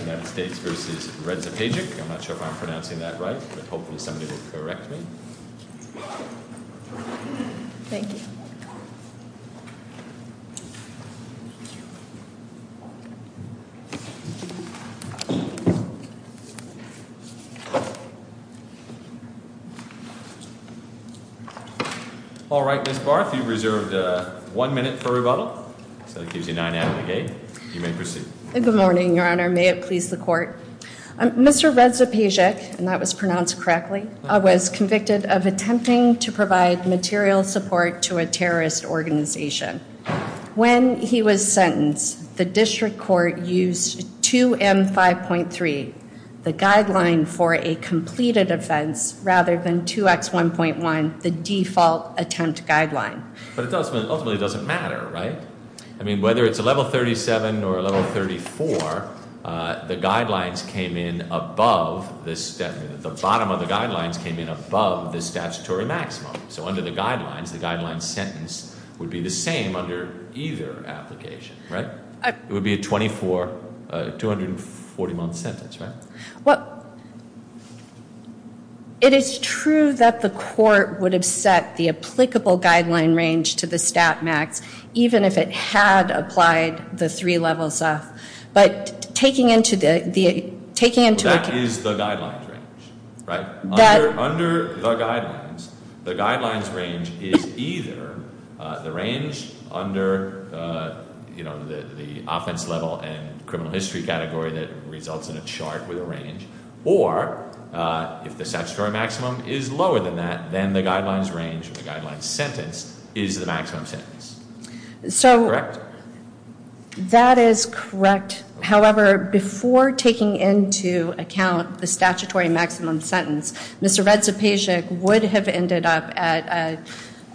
I'm not sure if I'm pronouncing that right, but hopefully somebody will correct me. Thank you. Alright, Ms. Barth, you've reserved one minute for rebuttal. So that keeps you nine out of the game. You may proceed. Good morning, your honor. May it please the court. Mr. Redzepagic, and that was pronounced correctly, was convicted of attempting to provide material support to a terrorist organization. When he was sentenced, the district court used 2M5.3, the guideline for a completed offense, rather than 2X1.1, the default attempt guideline. But it ultimately doesn't matter, right? I mean, whether it's a level 37 or a level 34, the guidelines came in above, the bottom of the guidelines came in above the statutory maximum. So under the guidelines, the guideline sentence would be the same under either application, right? It would be a 24, a 240 month sentence, right? Well, it is true that the court would have set the applicable guideline range to the stat max, even if it had applied the three levels up. But taking into account- That is the guidelines range, right? Under the guidelines, the guidelines range is either the range under the offense level and criminal history category that results in a chart with a range, or if the statutory maximum is lower than that, then the guidelines range, the guidelines sentence, is the maximum sentence. Correct? That is correct. However, before taking into account the statutory maximum sentence, Mr. Redzapajic would have ended up at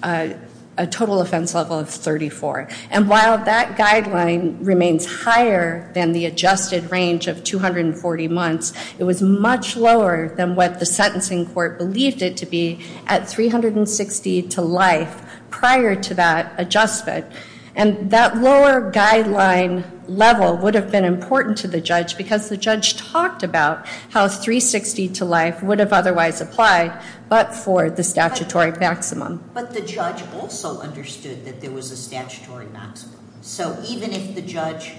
a total offense level of 34. And while that guideline remains higher than the adjusted range of 240 months, it was much lower than what the sentencing court believed it to be at 360 to life prior to that adjustment. And that lower guideline level would have been important to the judge, because the judge talked about how 360 to life would have otherwise applied, but for the statutory maximum. But the judge also understood that there was a statutory maximum. So even if the judge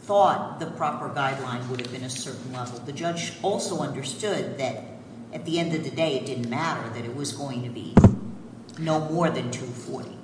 thought the proper guideline would have been a certain level, the judge also understood that at the end of the day it didn't matter, that it was going to be no more than 240.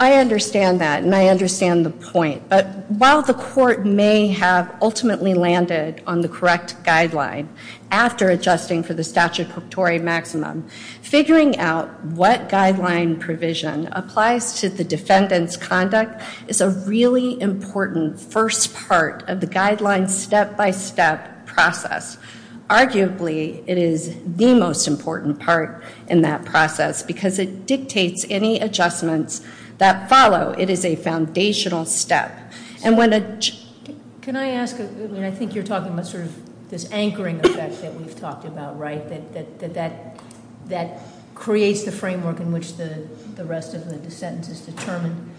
I understand that, and I understand the point. But while the court may have ultimately landed on the correct guideline after adjusting for the statutory maximum, figuring out what guideline provision applies to the defendant's conduct is a really important first part of the guideline step-by-step process. Arguably, it is the most important part in that process, because it dictates any adjustments that follow. It is a foundational step. And when a- Can I ask, I think you're talking about sort of this anchoring effect that we've talked about, right? That creates the framework in which the rest of the sentence is determined.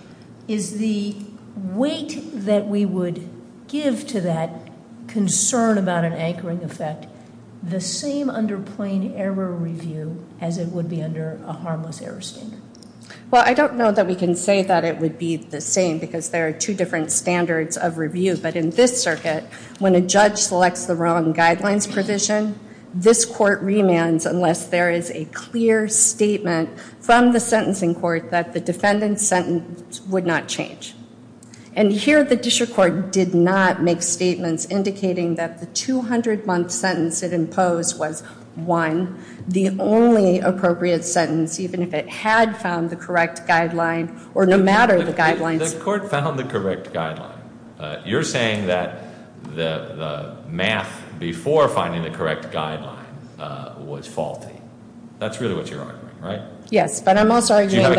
Is the weight that we would give to that concern about an anchoring effect the same under plain error review as it would be under a harmless error standard? Well, I don't know that we can say that it would be the same, because there are two different standards of review. But in this circuit, when a judge selects the wrong guidelines provision, this court remands unless there is a clear statement from the sentencing court that the defendant's sentence would not change. And here, the district court did not make statements indicating that the 200-month sentence it imposed was one, the only appropriate sentence, even if it had found the correct guideline, or no matter the guidelines. The court found the correct guideline. You're saying that the math before finding the correct guideline was faulty. That's really what you're arguing, right? Yes, but I'm also arguing that-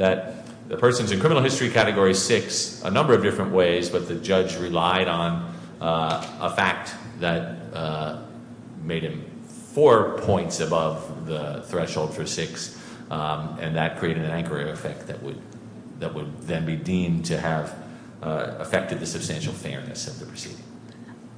that the person's in criminal history category six a number of different ways, but the judge relied on a fact that made him four points above the threshold for six, and that created an anchoring effect that would then be deemed to have affected the substantial fairness of the proceeding.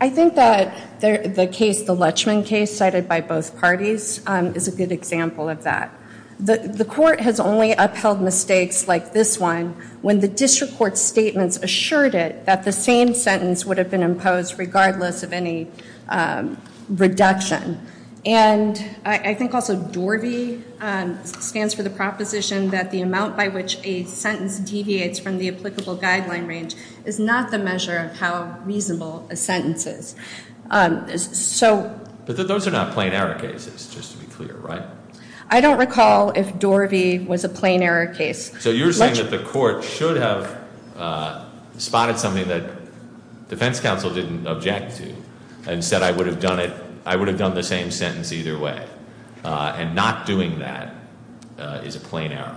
I think that the case, the Lechman case cited by both parties, is a good example of that. The court has only upheld mistakes like this one when the district court's statements assured it that the same sentence would have been imposed regardless of any reduction. And I think also DORVI stands for the proposition that the amount by which a sentence deviates from the applicable guideline range is not the measure of how reasonable a sentence is. So- But those are not plain error cases, just to be clear, right? I don't recall if DORVI was a plain error case. So you're saying that the court should have spotted something that defense counsel didn't object to and said I would have done it- I would have done the same sentence either way. And not doing that is a plain error.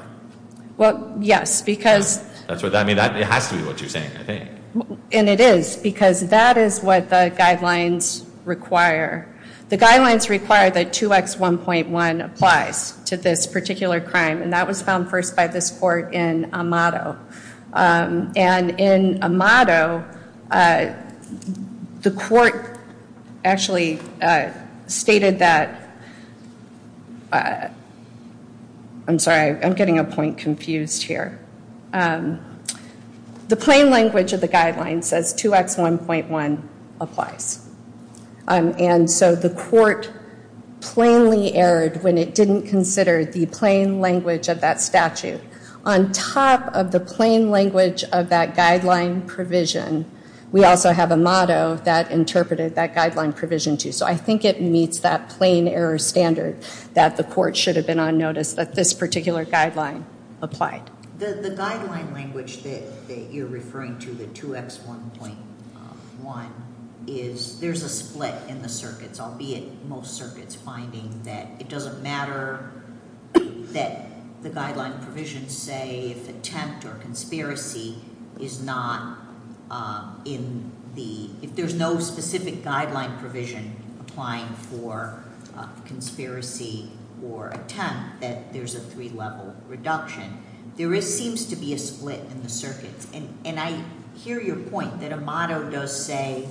Well, yes, because- That's what I mean. It has to be what you're saying, I think. And it is, because that is what the guidelines require. The guidelines require that 2X1.1 applies to this particular crime. And that was found first by this court in Amato. And in Amato, the court actually stated that- I'm sorry, I'm getting a point confused here. The plain language of the guidelines says 2X1.1 applies. And so the court plainly erred when it didn't consider the plain language of that statute. On top of the plain language of that guideline provision, we also have Amato that interpreted that guideline provision, too. So I think it meets that plain error standard that the court should have been on notice that this particular guideline applied. The guideline language that you're referring to, the 2X1.1, is there's a split in the circuits, albeit most circuits finding that it doesn't matter that the guideline provision say if attempt or conspiracy is not in the- if there's no specific guideline provision applying for conspiracy or attempt, that there's a three-level reduction. There seems to be a split in the circuits. And I hear your point that Amato does say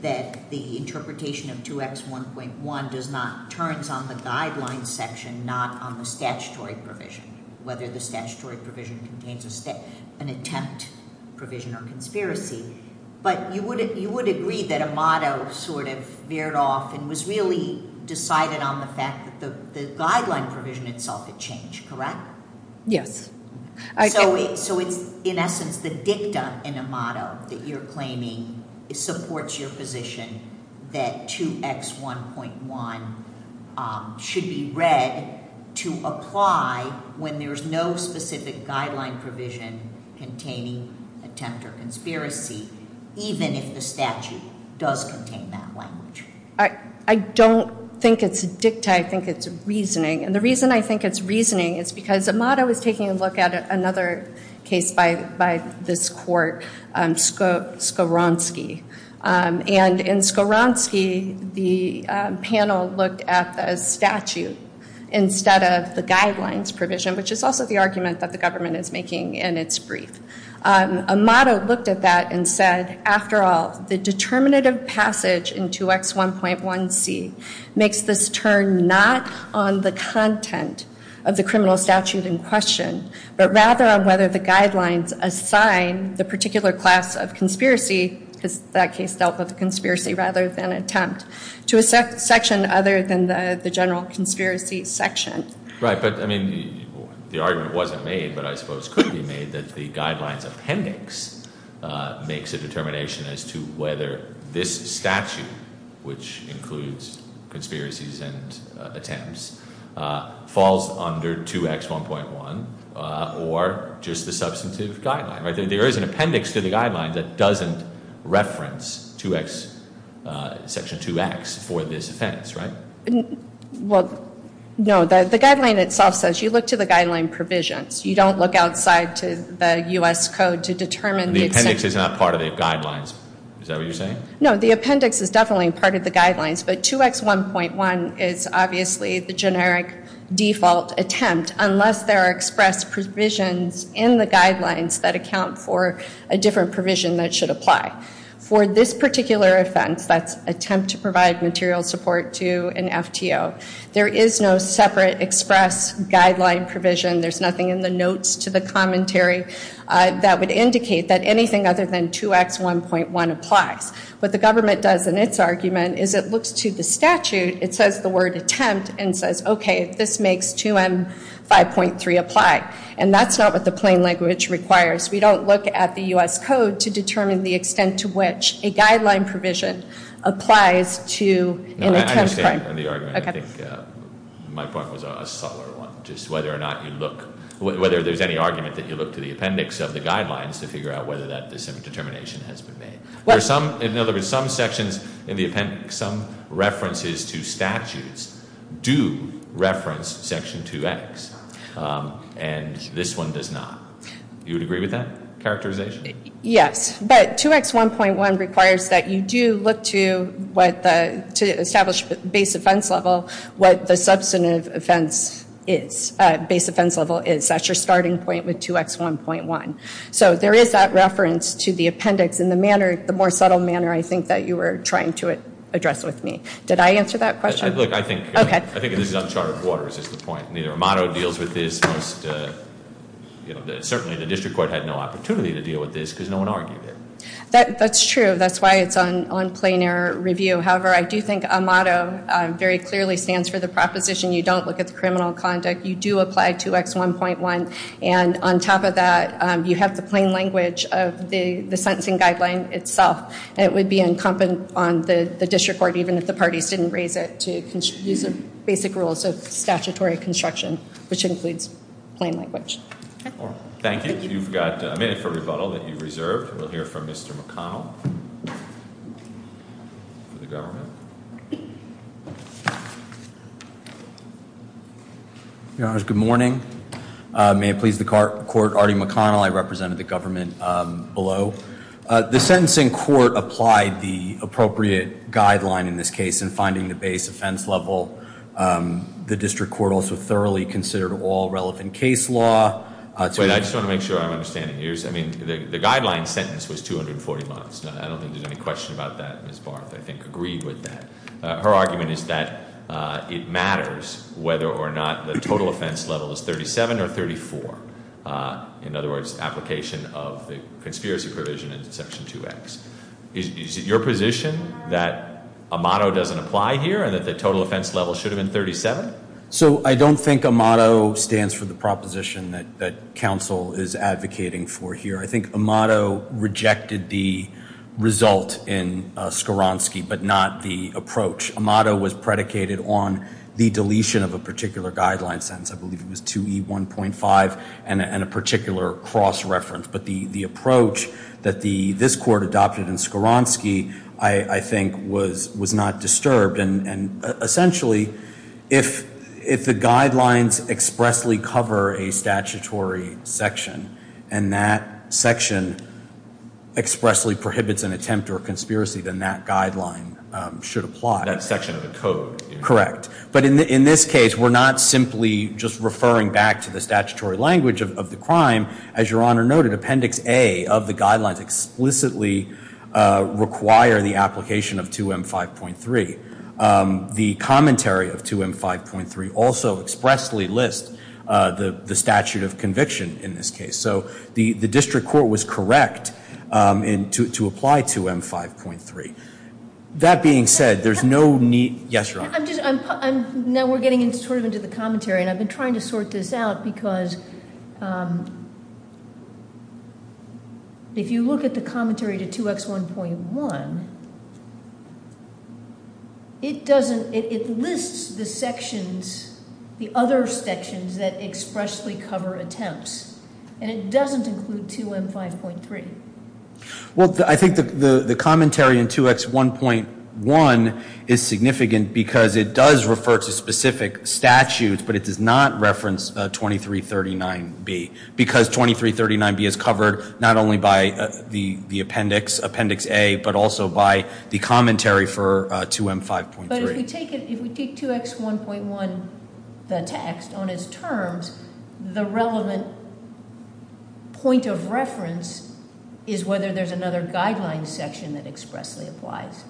that the interpretation of 2X1.1 does not- turns on the guidelines section, not on the statutory provision, whether the statutory provision contains an attempt provision or conspiracy. But you would agree that Amato sort of veered off and was really decided on the fact that the guideline provision itself had changed, correct? Yes. So it's, in essence, the dicta in Amato that you're claiming supports your position that 2X1.1 should be read to apply when there's no specific guideline provision containing attempt or conspiracy, even if the statute does contain that language? I don't think it's dicta. I think it's reasoning. And the reason I think it's reasoning is because Amato is taking a look at another case by this court, Skowronski. And in Skowronski, the panel looked at the statute instead of the guidelines provision, which is also the argument that the government is making in its brief. Amato looked at that and said, after all, the determinative passage in 2X1.1C makes this turn not on the content of the criminal statute in question, but rather on whether the guidelines assign the particular class of conspiracy, because that case dealt with conspiracy rather than attempt, to a section other than the general conspiracy section. Right. But, I mean, the argument wasn't made, but I suppose could be made, that the guidelines appendix makes a determination as to whether this statute, which includes conspiracies and attempts, falls under 2X1.1 or just the substantive guideline. There is an appendix to the guideline that doesn't reference Section 2X for this offense, right? Well, no. The guideline itself says you look to the guideline provisions. You don't look outside to the U.S. Code to determine the extent. The appendix is not part of the guidelines. Is that what you're saying? No, the appendix is definitely part of the guidelines, but 2X1.1 is obviously the generic default attempt, unless there are expressed provisions in the guidelines that account for a different provision that should apply. For this particular offense, that's attempt to provide material support to an FTO, there is no separate express guideline provision. There's nothing in the notes to the commentary that would indicate that anything other than 2X1.1 applies. What the government does in its argument is it looks to the statute. It says the word attempt and says, okay, this makes 2M5.3 apply, and that's not what the plain language requires. We don't look at the U.S. Code to determine the extent to which a guideline provision applies to an attempt crime. I understand the argument. I think my point was a subtler one, just whether or not you look, whether there's any argument that you look to the appendix of the guidelines to figure out whether that determination has been made. In other words, some sections in the appendix, some references to statutes do reference Section 2X, and this one does not. You would agree with that characterization? Yes, but 2X1.1 requires that you do look to establish base offense level, what the substantive base offense level is. That's your starting point with 2X1.1. So there is that reference to the appendix in the more subtle manner, I think, that you were trying to address with me. Did I answer that question? Look, I think this is uncharted waters is the point. Neither Amato deals with this. Certainly the district court had no opportunity to deal with this because no one argued it. That's true. That's why it's on plain air review. However, I do think Amato very clearly stands for the proposition you don't look at the criminal conduct. You do apply 2X1.1. And on top of that, you have the plain language of the sentencing guideline itself. And it would be incumbent on the district court, even if the parties didn't raise it, to use the basic rules of statutory construction, which includes plain language. Thank you. You've got a minute for rebuttal that you've reserved. We'll hear from Mr. McConnell for the government. Your Honors, good morning. May it please the court, Artie McConnell. I represented the government below. The sentencing court applied the appropriate guideline in this case in finding the base offense level. The district court also thoroughly considered all relevant case law. Wait, I just want to make sure I'm understanding. I mean, the guideline sentence was 240 months. I don't think there's any question about that. Ms. Barth, I think, agreed with that. Her argument is that it matters whether or not the total offense level is 37 or 34. In other words, application of the conspiracy provision in section 2X. Is it your position that Amato doesn't apply here and that the total offense level should have been 37? So I don't think Amato stands for the proposition that counsel is advocating for here. I think Amato rejected the result in Skowronski but not the approach. Amato was predicated on the deletion of a particular guideline sentence. I believe it was 2E1.5 and a particular cross reference. But the approach that this court adopted in Skowronski, I think, was not disturbed. And essentially, if the guidelines expressly cover a statutory section, and that section expressly prohibits an attempt or a conspiracy, then that guideline should apply. That section of the code. Correct. But in this case, we're not simply just referring back to the statutory language of the crime. As Your Honor noted, Appendix A of the guidelines explicitly require the application of 2M5.3. The commentary of 2M5.3 also expressly lists the statute of conviction in this case. So the district court was correct to apply 2M5.3. That being said, there's no need. Yes, Your Honor. Now we're getting sort of into the commentary. And I've been trying to sort this out because if you look at the commentary to 2X1.1, it lists the other sections that expressly cover attempts. And it doesn't include 2M5.3. Well, I think the commentary in 2X1.1 is significant because it does refer to specific statutes, but it does not reference 2339B because 2339B is covered not only by the appendix, Appendix A, but also by the commentary for 2M5.3. But if we take 2X1.1, the text, on its terms, the relevant point of reference is whether there's another guideline section that expressly applies.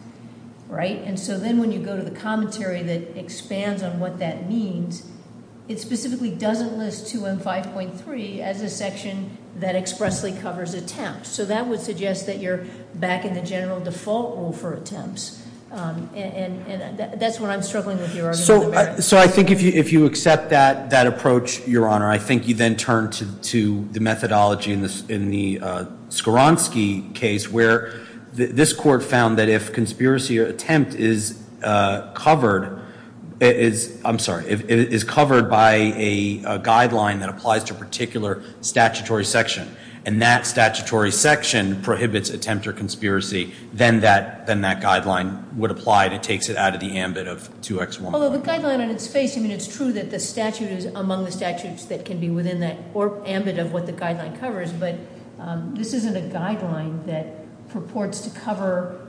And so then when you go to the commentary that expands on what that means, it specifically doesn't list 2M5.3 as a section that expressly covers attempts. So that would suggest that you're back in the general default rule for attempts. And that's what I'm struggling with here. So I think if you accept that approach, Your Honor, I think you then turn to the methodology in the Skowronski case where this court found that if conspiracy or attempt is covered by a guideline that applies to a particular statutory section and that statutory section prohibits attempt or conspiracy, then that guideline would apply. It takes it out of the ambit of 2X1.1. Although the guideline on its face, I mean, it's true that the statute is among the statutes that can be within that ambit of what the guideline covers. But this isn't a guideline that purports to cover,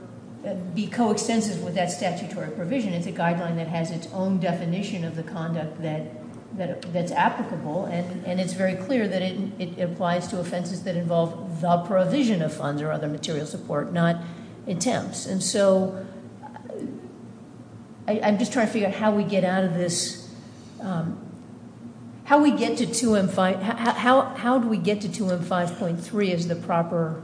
be coextensive with that statutory provision. It's a guideline that has its own definition of the conduct that's applicable. And it's very clear that it applies to offenses that involve the provision of funds or other material support, not attempts. And so I'm just trying to figure out how we get out of this. How do we get to 2M5.3 as the proper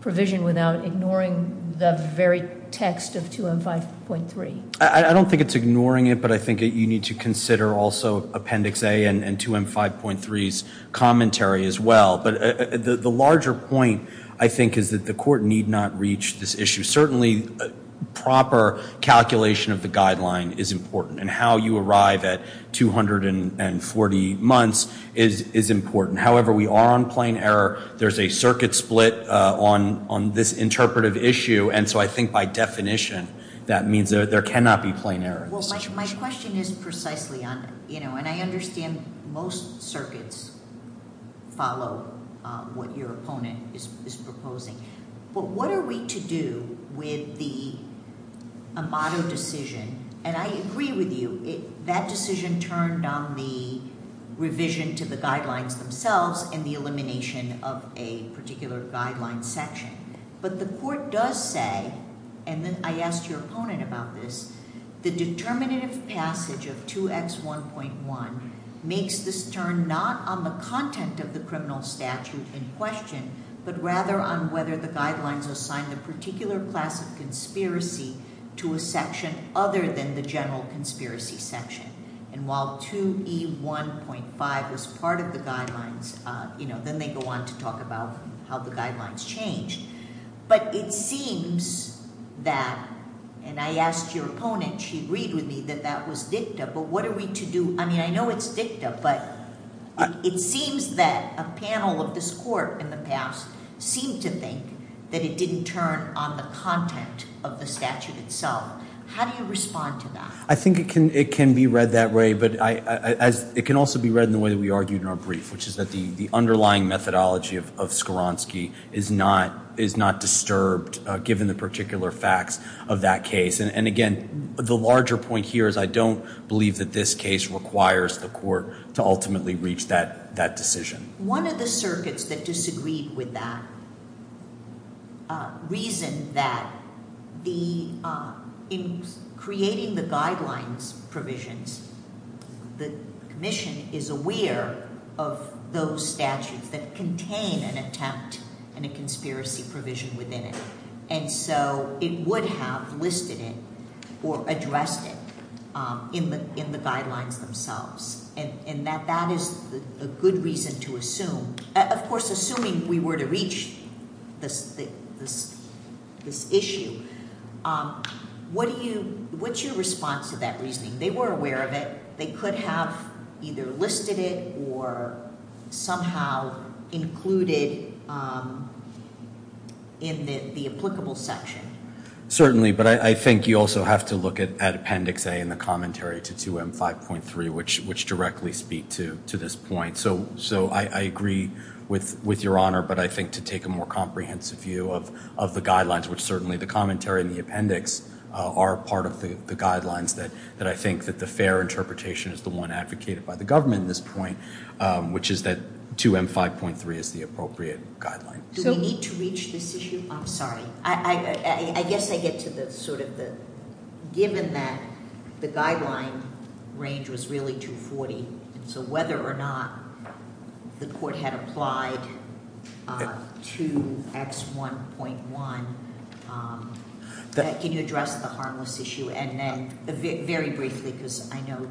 provision without ignoring the very text of 2M5.3? I don't think it's ignoring it, but I think you need to consider also Appendix A and 2M5.3's commentary as well. But the larger point, I think, is that the court need not reach this issue. Certainly, proper calculation of the guideline is important. And how you arrive at 240 months is important. However, we are on plain error. There's a circuit split on this interpretive issue. And so I think by definition that means there cannot be plain error in this situation. Well, my question is precisely on, you know, and I understand most circuits follow what your opponent is proposing. But what are we to do with the Amato decision? And I agree with you. That decision turned on the revision to the guidelines themselves and the elimination of a particular guideline section. But the court does say, and I asked your opponent about this, the determinative passage of 2X1.1 makes this turn not on the content of the criminal statute in question, but rather on whether the guidelines assign the particular class of conspiracy to a section other than the general conspiracy section. And while 2E1.5 was part of the guidelines, you know, then they go on to talk about how the guidelines changed. But it seems that, and I asked your opponent, she agreed with me that that was dicta. But what are we to do? I mean, I know it's dicta, but it seems that a panel of this court in the past seemed to think that it didn't turn on the content of the statute itself. How do you respond to that? I think it can be read that way, but it can also be read in the way that we argued in our brief, which is that the underlying methodology of Skowronski is not disturbed given the particular facts of that case. And, again, the larger point here is I don't believe that this case requires the court to ultimately reach that decision. One of the circuits that disagreed with that reasoned that in creating the guidelines provisions, the commission is aware of those statutes that contain an attempt and a conspiracy provision within it. And so it would have listed it or addressed it in the guidelines themselves. And that is a good reason to assume. Of course, assuming we were to reach this issue, what's your response to that reasoning? They were aware of it. They could have either listed it or somehow included in the applicable section. Certainly. But I think you also have to look at Appendix A and the commentary to 2M5.3, which directly speak to this point. So I agree with Your Honor, but I think to take a more comprehensive view of the guidelines, which certainly the commentary and the appendix are part of the guidelines that I think that the fair interpretation is the one advocated by the government at this point, which is that 2M5.3 is the appropriate guideline. Do we need to reach this issue? I'm sorry. I guess I get to the sort of the given that the guideline range was really 240. So whether or not the court had applied to X1.1, can you address the harmless issue? And then very briefly, because I know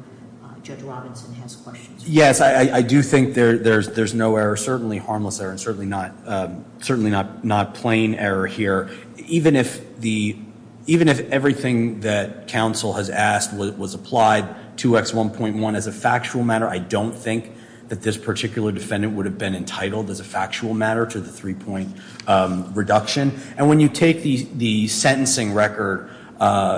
Judge Robinson has questions. Yes, I do think there's no error. Certainly not plain error here. Even if everything that counsel has asked was applied to X1.1 as a factual matter, I don't think that this particular defendant would have been entitled as a factual matter to the three-point reduction. And when you take the sentencing record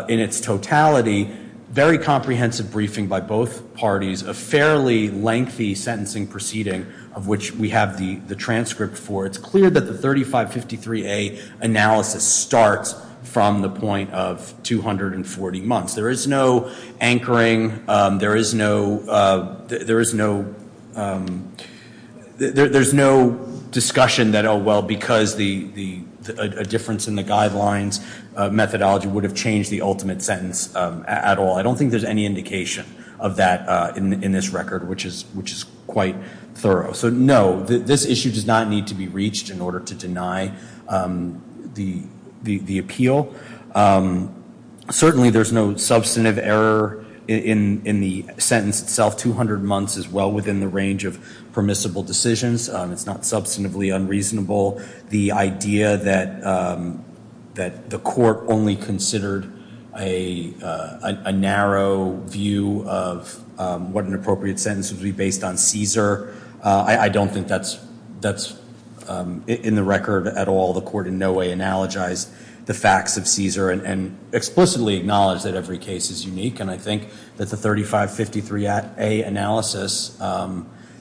in its totality, very comprehensive briefing by both parties, a fairly lengthy sentencing proceeding of which we have the transcript for, it's clear that the 3553A analysis starts from the point of 240 months. There is no anchoring. There is no discussion that, oh, well, because a difference in the guidelines methodology would have changed the ultimate sentence at all. I don't think there's any indication of that in this record, which is quite thorough. So, no, this issue does not need to be reached in order to deny the appeal. Certainly there's no substantive error in the sentence itself. 200 months is well within the range of permissible decisions. It's not substantively unreasonable. The idea that the court only considered a narrow view of what an appropriate sentence would be based on CSER, I don't think that's in the record at all. The court in no way analogized the facts of CSER and explicitly acknowledged that every case is unique. And I think that the 3553A analysis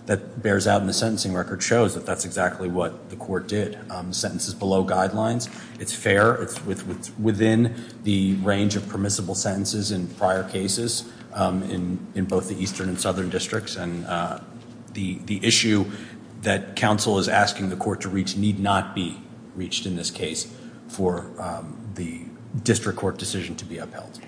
that bears out in the sentencing record shows that that's exactly what the court did. The sentence is below guidelines. It's fair. It's within the range of permissible sentences in prior cases in both the eastern and southern districts. And the issue that counsel is asking the court to reach need not be reached in this case for the district court decision to be upheld.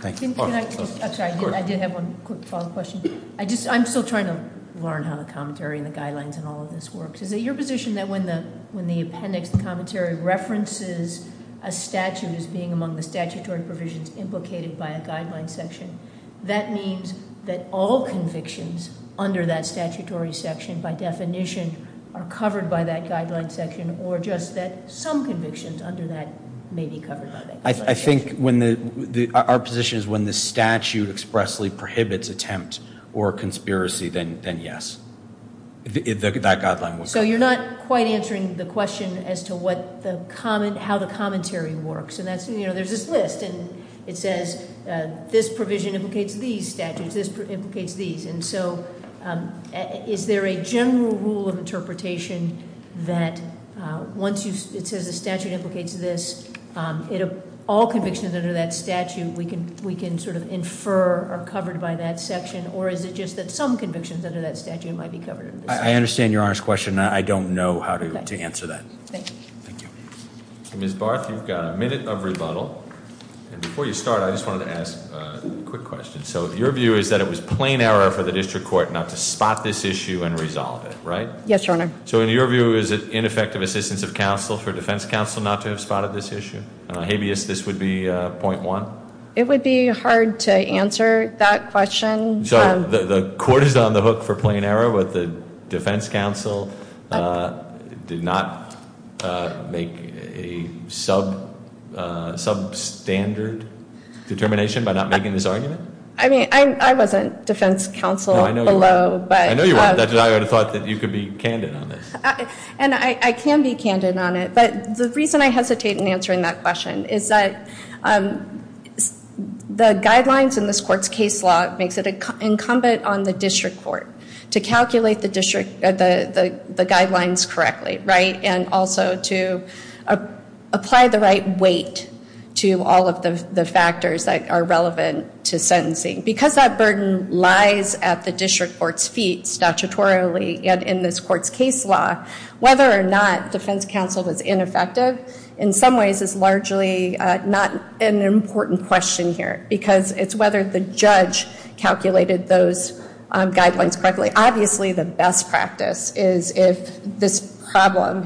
Thank you. I'm sorry. I did have one quick follow-up question. I'm still trying to learn how the commentary and the guidelines and all of this works. Is it your position that when the appendix commentary references a statute as being among the statutory provisions implicated by a guideline section, that means that all convictions under that statutory section by definition are covered by that guideline section, or just that some convictions under that may be covered by that guideline section? I think our position is when the statute expressly prohibits attempt or conspiracy, then yes. That guideline would- So you're not quite answering the question as to how the commentary works. There's this list, and it says this provision implicates these statutes. This implicates these. And so is there a general rule of interpretation that once it says a statute implicates this, all convictions under that statute we can sort of infer are covered by that section, or is it just that some convictions under that statute might be covered in this section? I understand your honest question. I don't know how to answer that. Thank you. Ms. Barth, you've got a minute of rebuttal. And before you start, I just wanted to ask a quick question. So your view is that it was plain error for the district court not to spot this issue and resolve it, right? Yes, Your Honor. So in your view, is it ineffective assistance of counsel for defense counsel not to have spotted this issue? Habeas, this would be point one. It would be hard to answer that question. So the court is on the hook for plain error with the defense counsel did not make a substandard determination by not making this argument? I mean, I wasn't defense counsel below. I know you weren't. I would have thought that you could be candid on this. And I can be candid on it. But the reason I hesitate in answering that question is that the guidelines in this court's case law makes it incumbent on the district court to calculate the guidelines correctly, right? And also to apply the right weight to all of the factors that are relevant to sentencing. Because that burden lies at the district court's feet statutorily and in this court's case law, whether or not defense counsel was ineffective in some ways is largely not an important question here. Because it's whether the judge calculated those guidelines correctly. Obviously, the best practice is if this problem,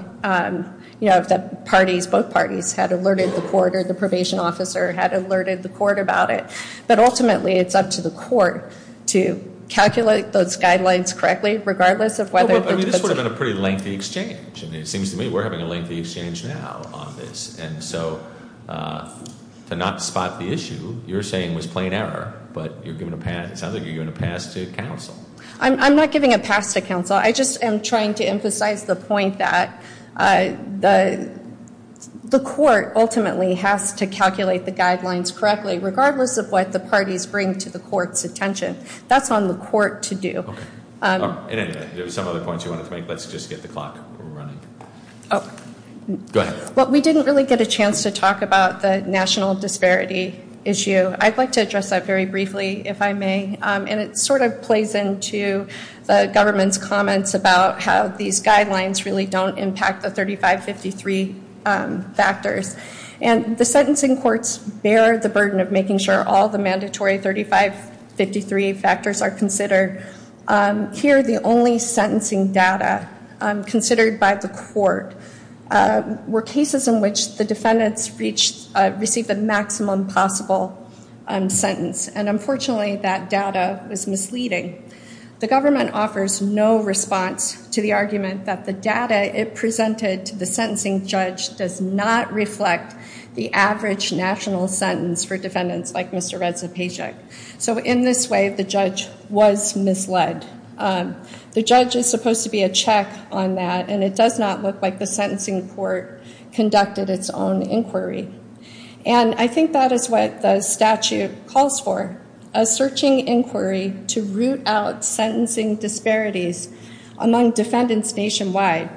you know, if both parties had alerted the court or the probation officer had alerted the court about it. But ultimately, it's up to the court to calculate those guidelines correctly regardless of whether- I mean, this would have been a pretty lengthy exchange. And it seems to me we're having a lengthy exchange now on this. And so to not spot the issue, you're saying was plain error. But you're giving a pass. It sounds like you're giving a pass to counsel. I'm not giving a pass to counsel. I just am trying to emphasize the point that the court ultimately has to calculate the guidelines correctly regardless of what the parties bring to the court's attention. That's on the court to do. Okay. And anyway, there were some other points you wanted to make. Let's just get the clock running. Oh. Go ahead. Well, we didn't really get a chance to talk about the national disparity issue. I'd like to address that very briefly if I may. And it sort of plays into the government's comments about how these guidelines really don't impact the 3553 factors. And the sentencing courts bear the burden of making sure all the mandatory 3553 factors are considered. Here, the only sentencing data considered by the court were cases in which the defendants received the maximum possible sentence. And unfortunately, that data was misleading. The government offers no response to the argument that the data it presented to the sentencing judge does not reflect the average national sentence for defendants like Mr. Redzapajic. So in this way, the judge was misled. The judge is supposed to be a check on that, and it does not look like the sentencing court conducted its own inquiry. And I think that is what the statute calls for, a searching inquiry to root out sentencing disparities among defendants nationwide.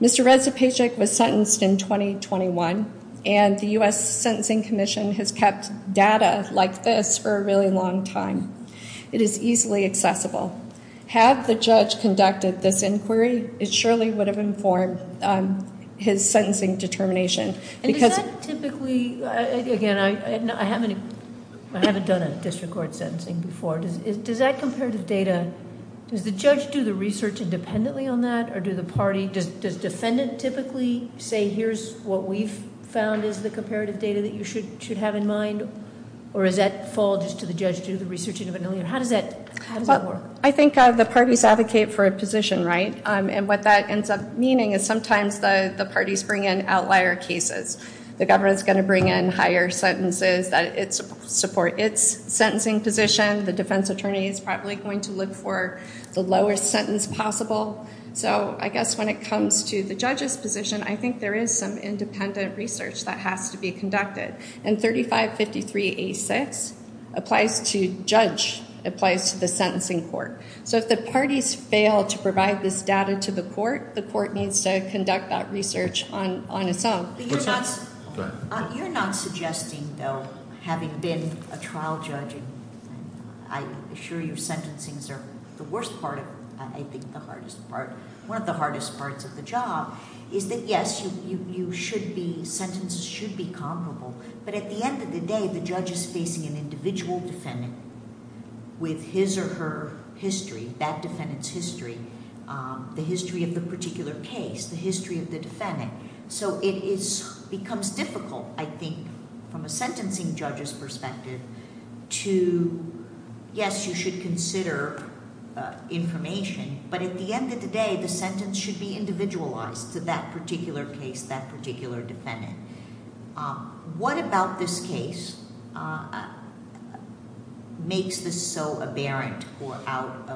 Mr. Redzapajic was sentenced in 2021, and the U.S. Sentencing Commission has kept data like this for a really long time. It is easily accessible. Had the judge conducted this inquiry, it surely would have informed his sentencing determination. And does that typically, again, I haven't done a district court sentencing before. Does that comparative data, does the judge do the research independently on that? Or do the party, does defendant typically say here's what we've found is the comparative data that you should have in mind? Or does that fall just to the judge to do the research independently? How does that work? I think the parties advocate for a position, right? And what that ends up meaning is sometimes the parties bring in outlier cases. The government is going to bring in higher sentences that support its sentencing position. The defense attorney is probably going to look for the lowest sentence possible. So I guess when it comes to the judge's position, I think there is some independent research that has to be conducted. And 3553A6 applies to judge, applies to the sentencing court. So if the parties fail to provide this data to the court, the court needs to conduct that research on its own. You're not suggesting, though, having been a trial judge, and I'm sure your sentencing is the worst part of it, I think the hardest part. One of the hardest parts of the job is that, yes, you should be, sentences should be comparable. But at the end of the day, the judge is facing an individual defendant with his or her history, that defendant's history, the history of the particular case, the history of the defendant. So it becomes difficult, I think, from a sentencing judge's perspective to, yes, you should consider information. But at the end of the day, the sentence should be individualized to that particular case, that particular defendant. What about this case makes this so aberrant or out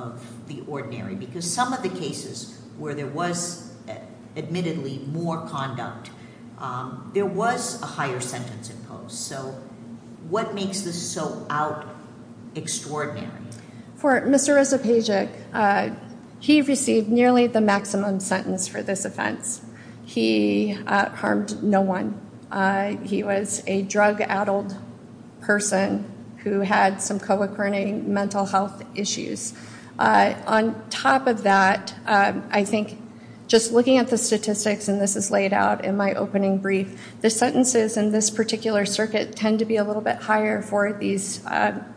of the ordinary? Because some of the cases where there was, admittedly, more conduct, there was a higher sentence imposed. So what makes this so out-extraordinary? For Mr. Resopagic, he received nearly the maximum sentence for this offense. He harmed no one. He was a drug-addled person who had some co-occurring mental health issues. On top of that, I think, just looking at the statistics, and this is laid out in my opening brief, the sentences in this particular circuit tend to be a little bit higher for these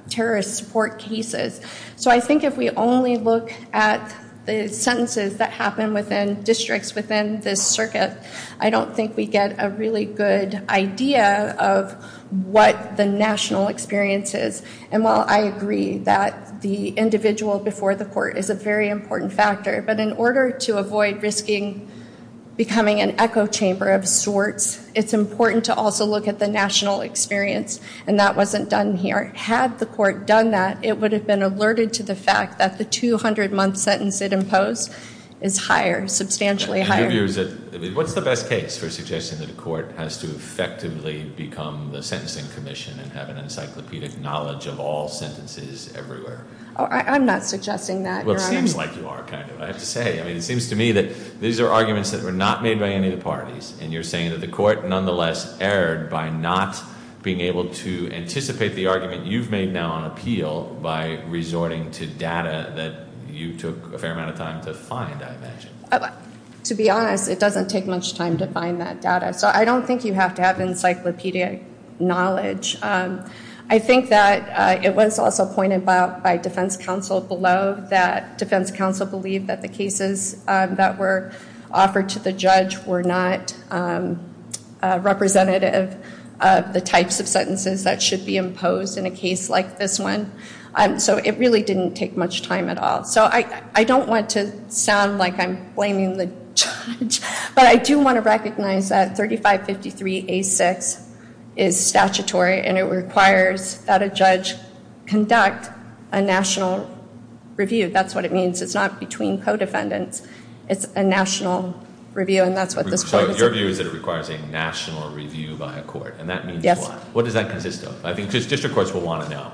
terrorist support cases. So I think if we only look at the sentences that happen within districts within this circuit, I don't think we get a really good idea of what the national experience is. And while I agree that the individual before the court is a very important factor, but in order to avoid risking becoming an echo chamber of sorts, it's important to also look at the national experience, and that wasn't done here. Had the court done that, it would have been alerted to the fact that the 200-month sentence it imposed is higher, substantially higher. What's the best case for suggesting that a court has to effectively become the sentencing commission and have an encyclopedic knowledge of all sentences everywhere? I'm not suggesting that, Your Honor. Well, it seems like you are, kind of, I have to say. I mean, it seems to me that these are arguments that were not made by any of the parties, and you're saying that the court, nonetheless, erred by not being able to anticipate the argument you've made now on appeal by resorting to data that you took a fair amount of time to find, I imagine. To be honest, it doesn't take much time to find that data. So I don't think you have to have encyclopedic knowledge. I think that it was also pointed out by defense counsel below that defense counsel believed that the cases that were offered to the judge were not representative of the types of sentences that should be imposed in a case like this one. So it really didn't take much time at all. So I don't want to sound like I'm blaming the judge, but I do want to recognize that 3553A6 is statutory, and it requires that a judge conduct a national review. That's what it means. It's not between co-defendants. It's a national review, and that's what this one is about. So your view is that it requires a national review by a court, and that means what? Yes. What does that consist of? I think district courts will want to know.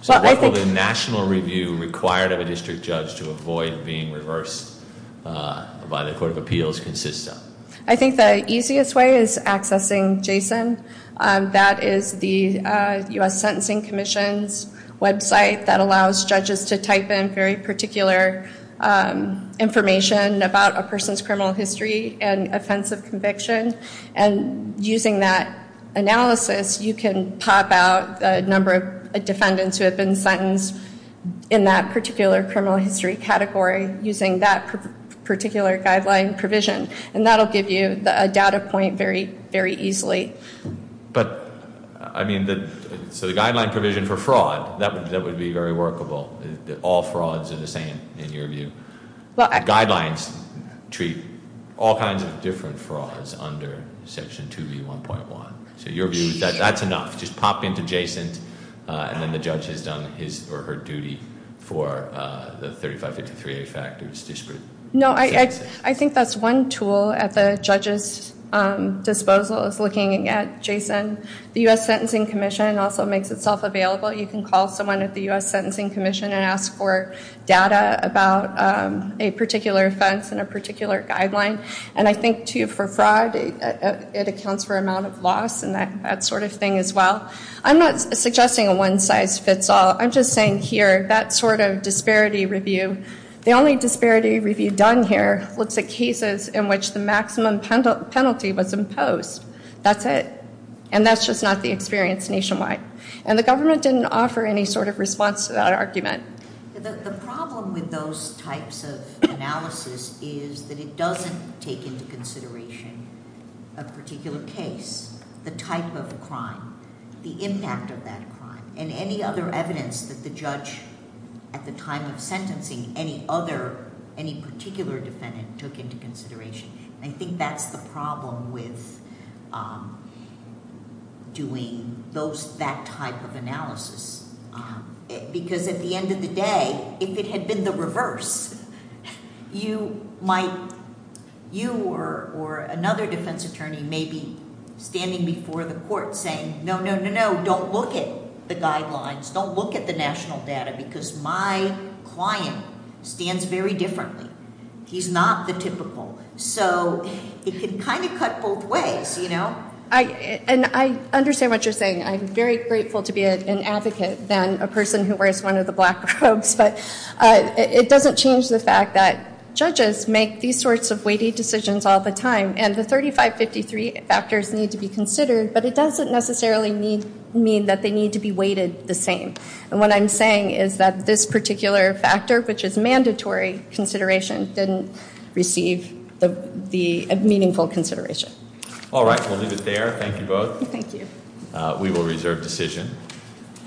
So what will the national review required of a district judge to avoid being reversed by the court of appeals consist of? I think the easiest way is accessing JSON. That is the U.S. Sentencing Commission's website that allows judges to type in very particular information about a person's criminal history and offense of conviction. And using that analysis, you can pop out a number of defendants who have been sentenced in that particular criminal history category using that particular guideline provision, and that will give you a data point very easily. But, I mean, so the guideline provision for fraud, that would be very workable. All frauds are the same in your view. Guidelines treat all kinds of different frauds under Section 2B1.1. So your view is that that's enough. Just pop into JSON, and then the judge has done his or her duty for the 3553A factors. No, I think that's one tool at the judge's disposal is looking at JSON. The U.S. Sentencing Commission also makes itself available. You can call someone at the U.S. Sentencing Commission and ask for data about a particular offense and a particular guideline. And I think, too, for fraud, it accounts for amount of loss and that sort of thing as well. I'm not suggesting a one-size-fits-all. I'm just saying here, that sort of disparity review, the only disparity review done here looks at cases in which the maximum penalty was imposed. That's it. And that's just not the experience nationwide. And the government didn't offer any sort of response to that argument. The problem with those types of analysis is that it doesn't take into consideration a particular case, the type of crime, the impact of that crime, and any other evidence that the judge, at the time of sentencing, any other, any particular defendant took into consideration. And I think that's the problem with doing that type of analysis, because at the end of the day, if it had been the reverse, you might, you or another defense attorney may be standing before the court saying, no, no, no, no, don't look at the guidelines, don't look at the national data, because my client stands very differently. He's not the typical. So it can kind of cut both ways, you know? And I understand what you're saying. I'm very grateful to be an advocate than a person who wears one of the black robes. But it doesn't change the fact that judges make these sorts of weighty decisions all the time, and the 3553 factors need to be considered, but it doesn't necessarily mean that they need to be weighted the same. And what I'm saying is that this particular factor, which is mandatory consideration, didn't receive the meaningful consideration. All right, we'll leave it there. Thank you both. Thank you. We will reserve decision.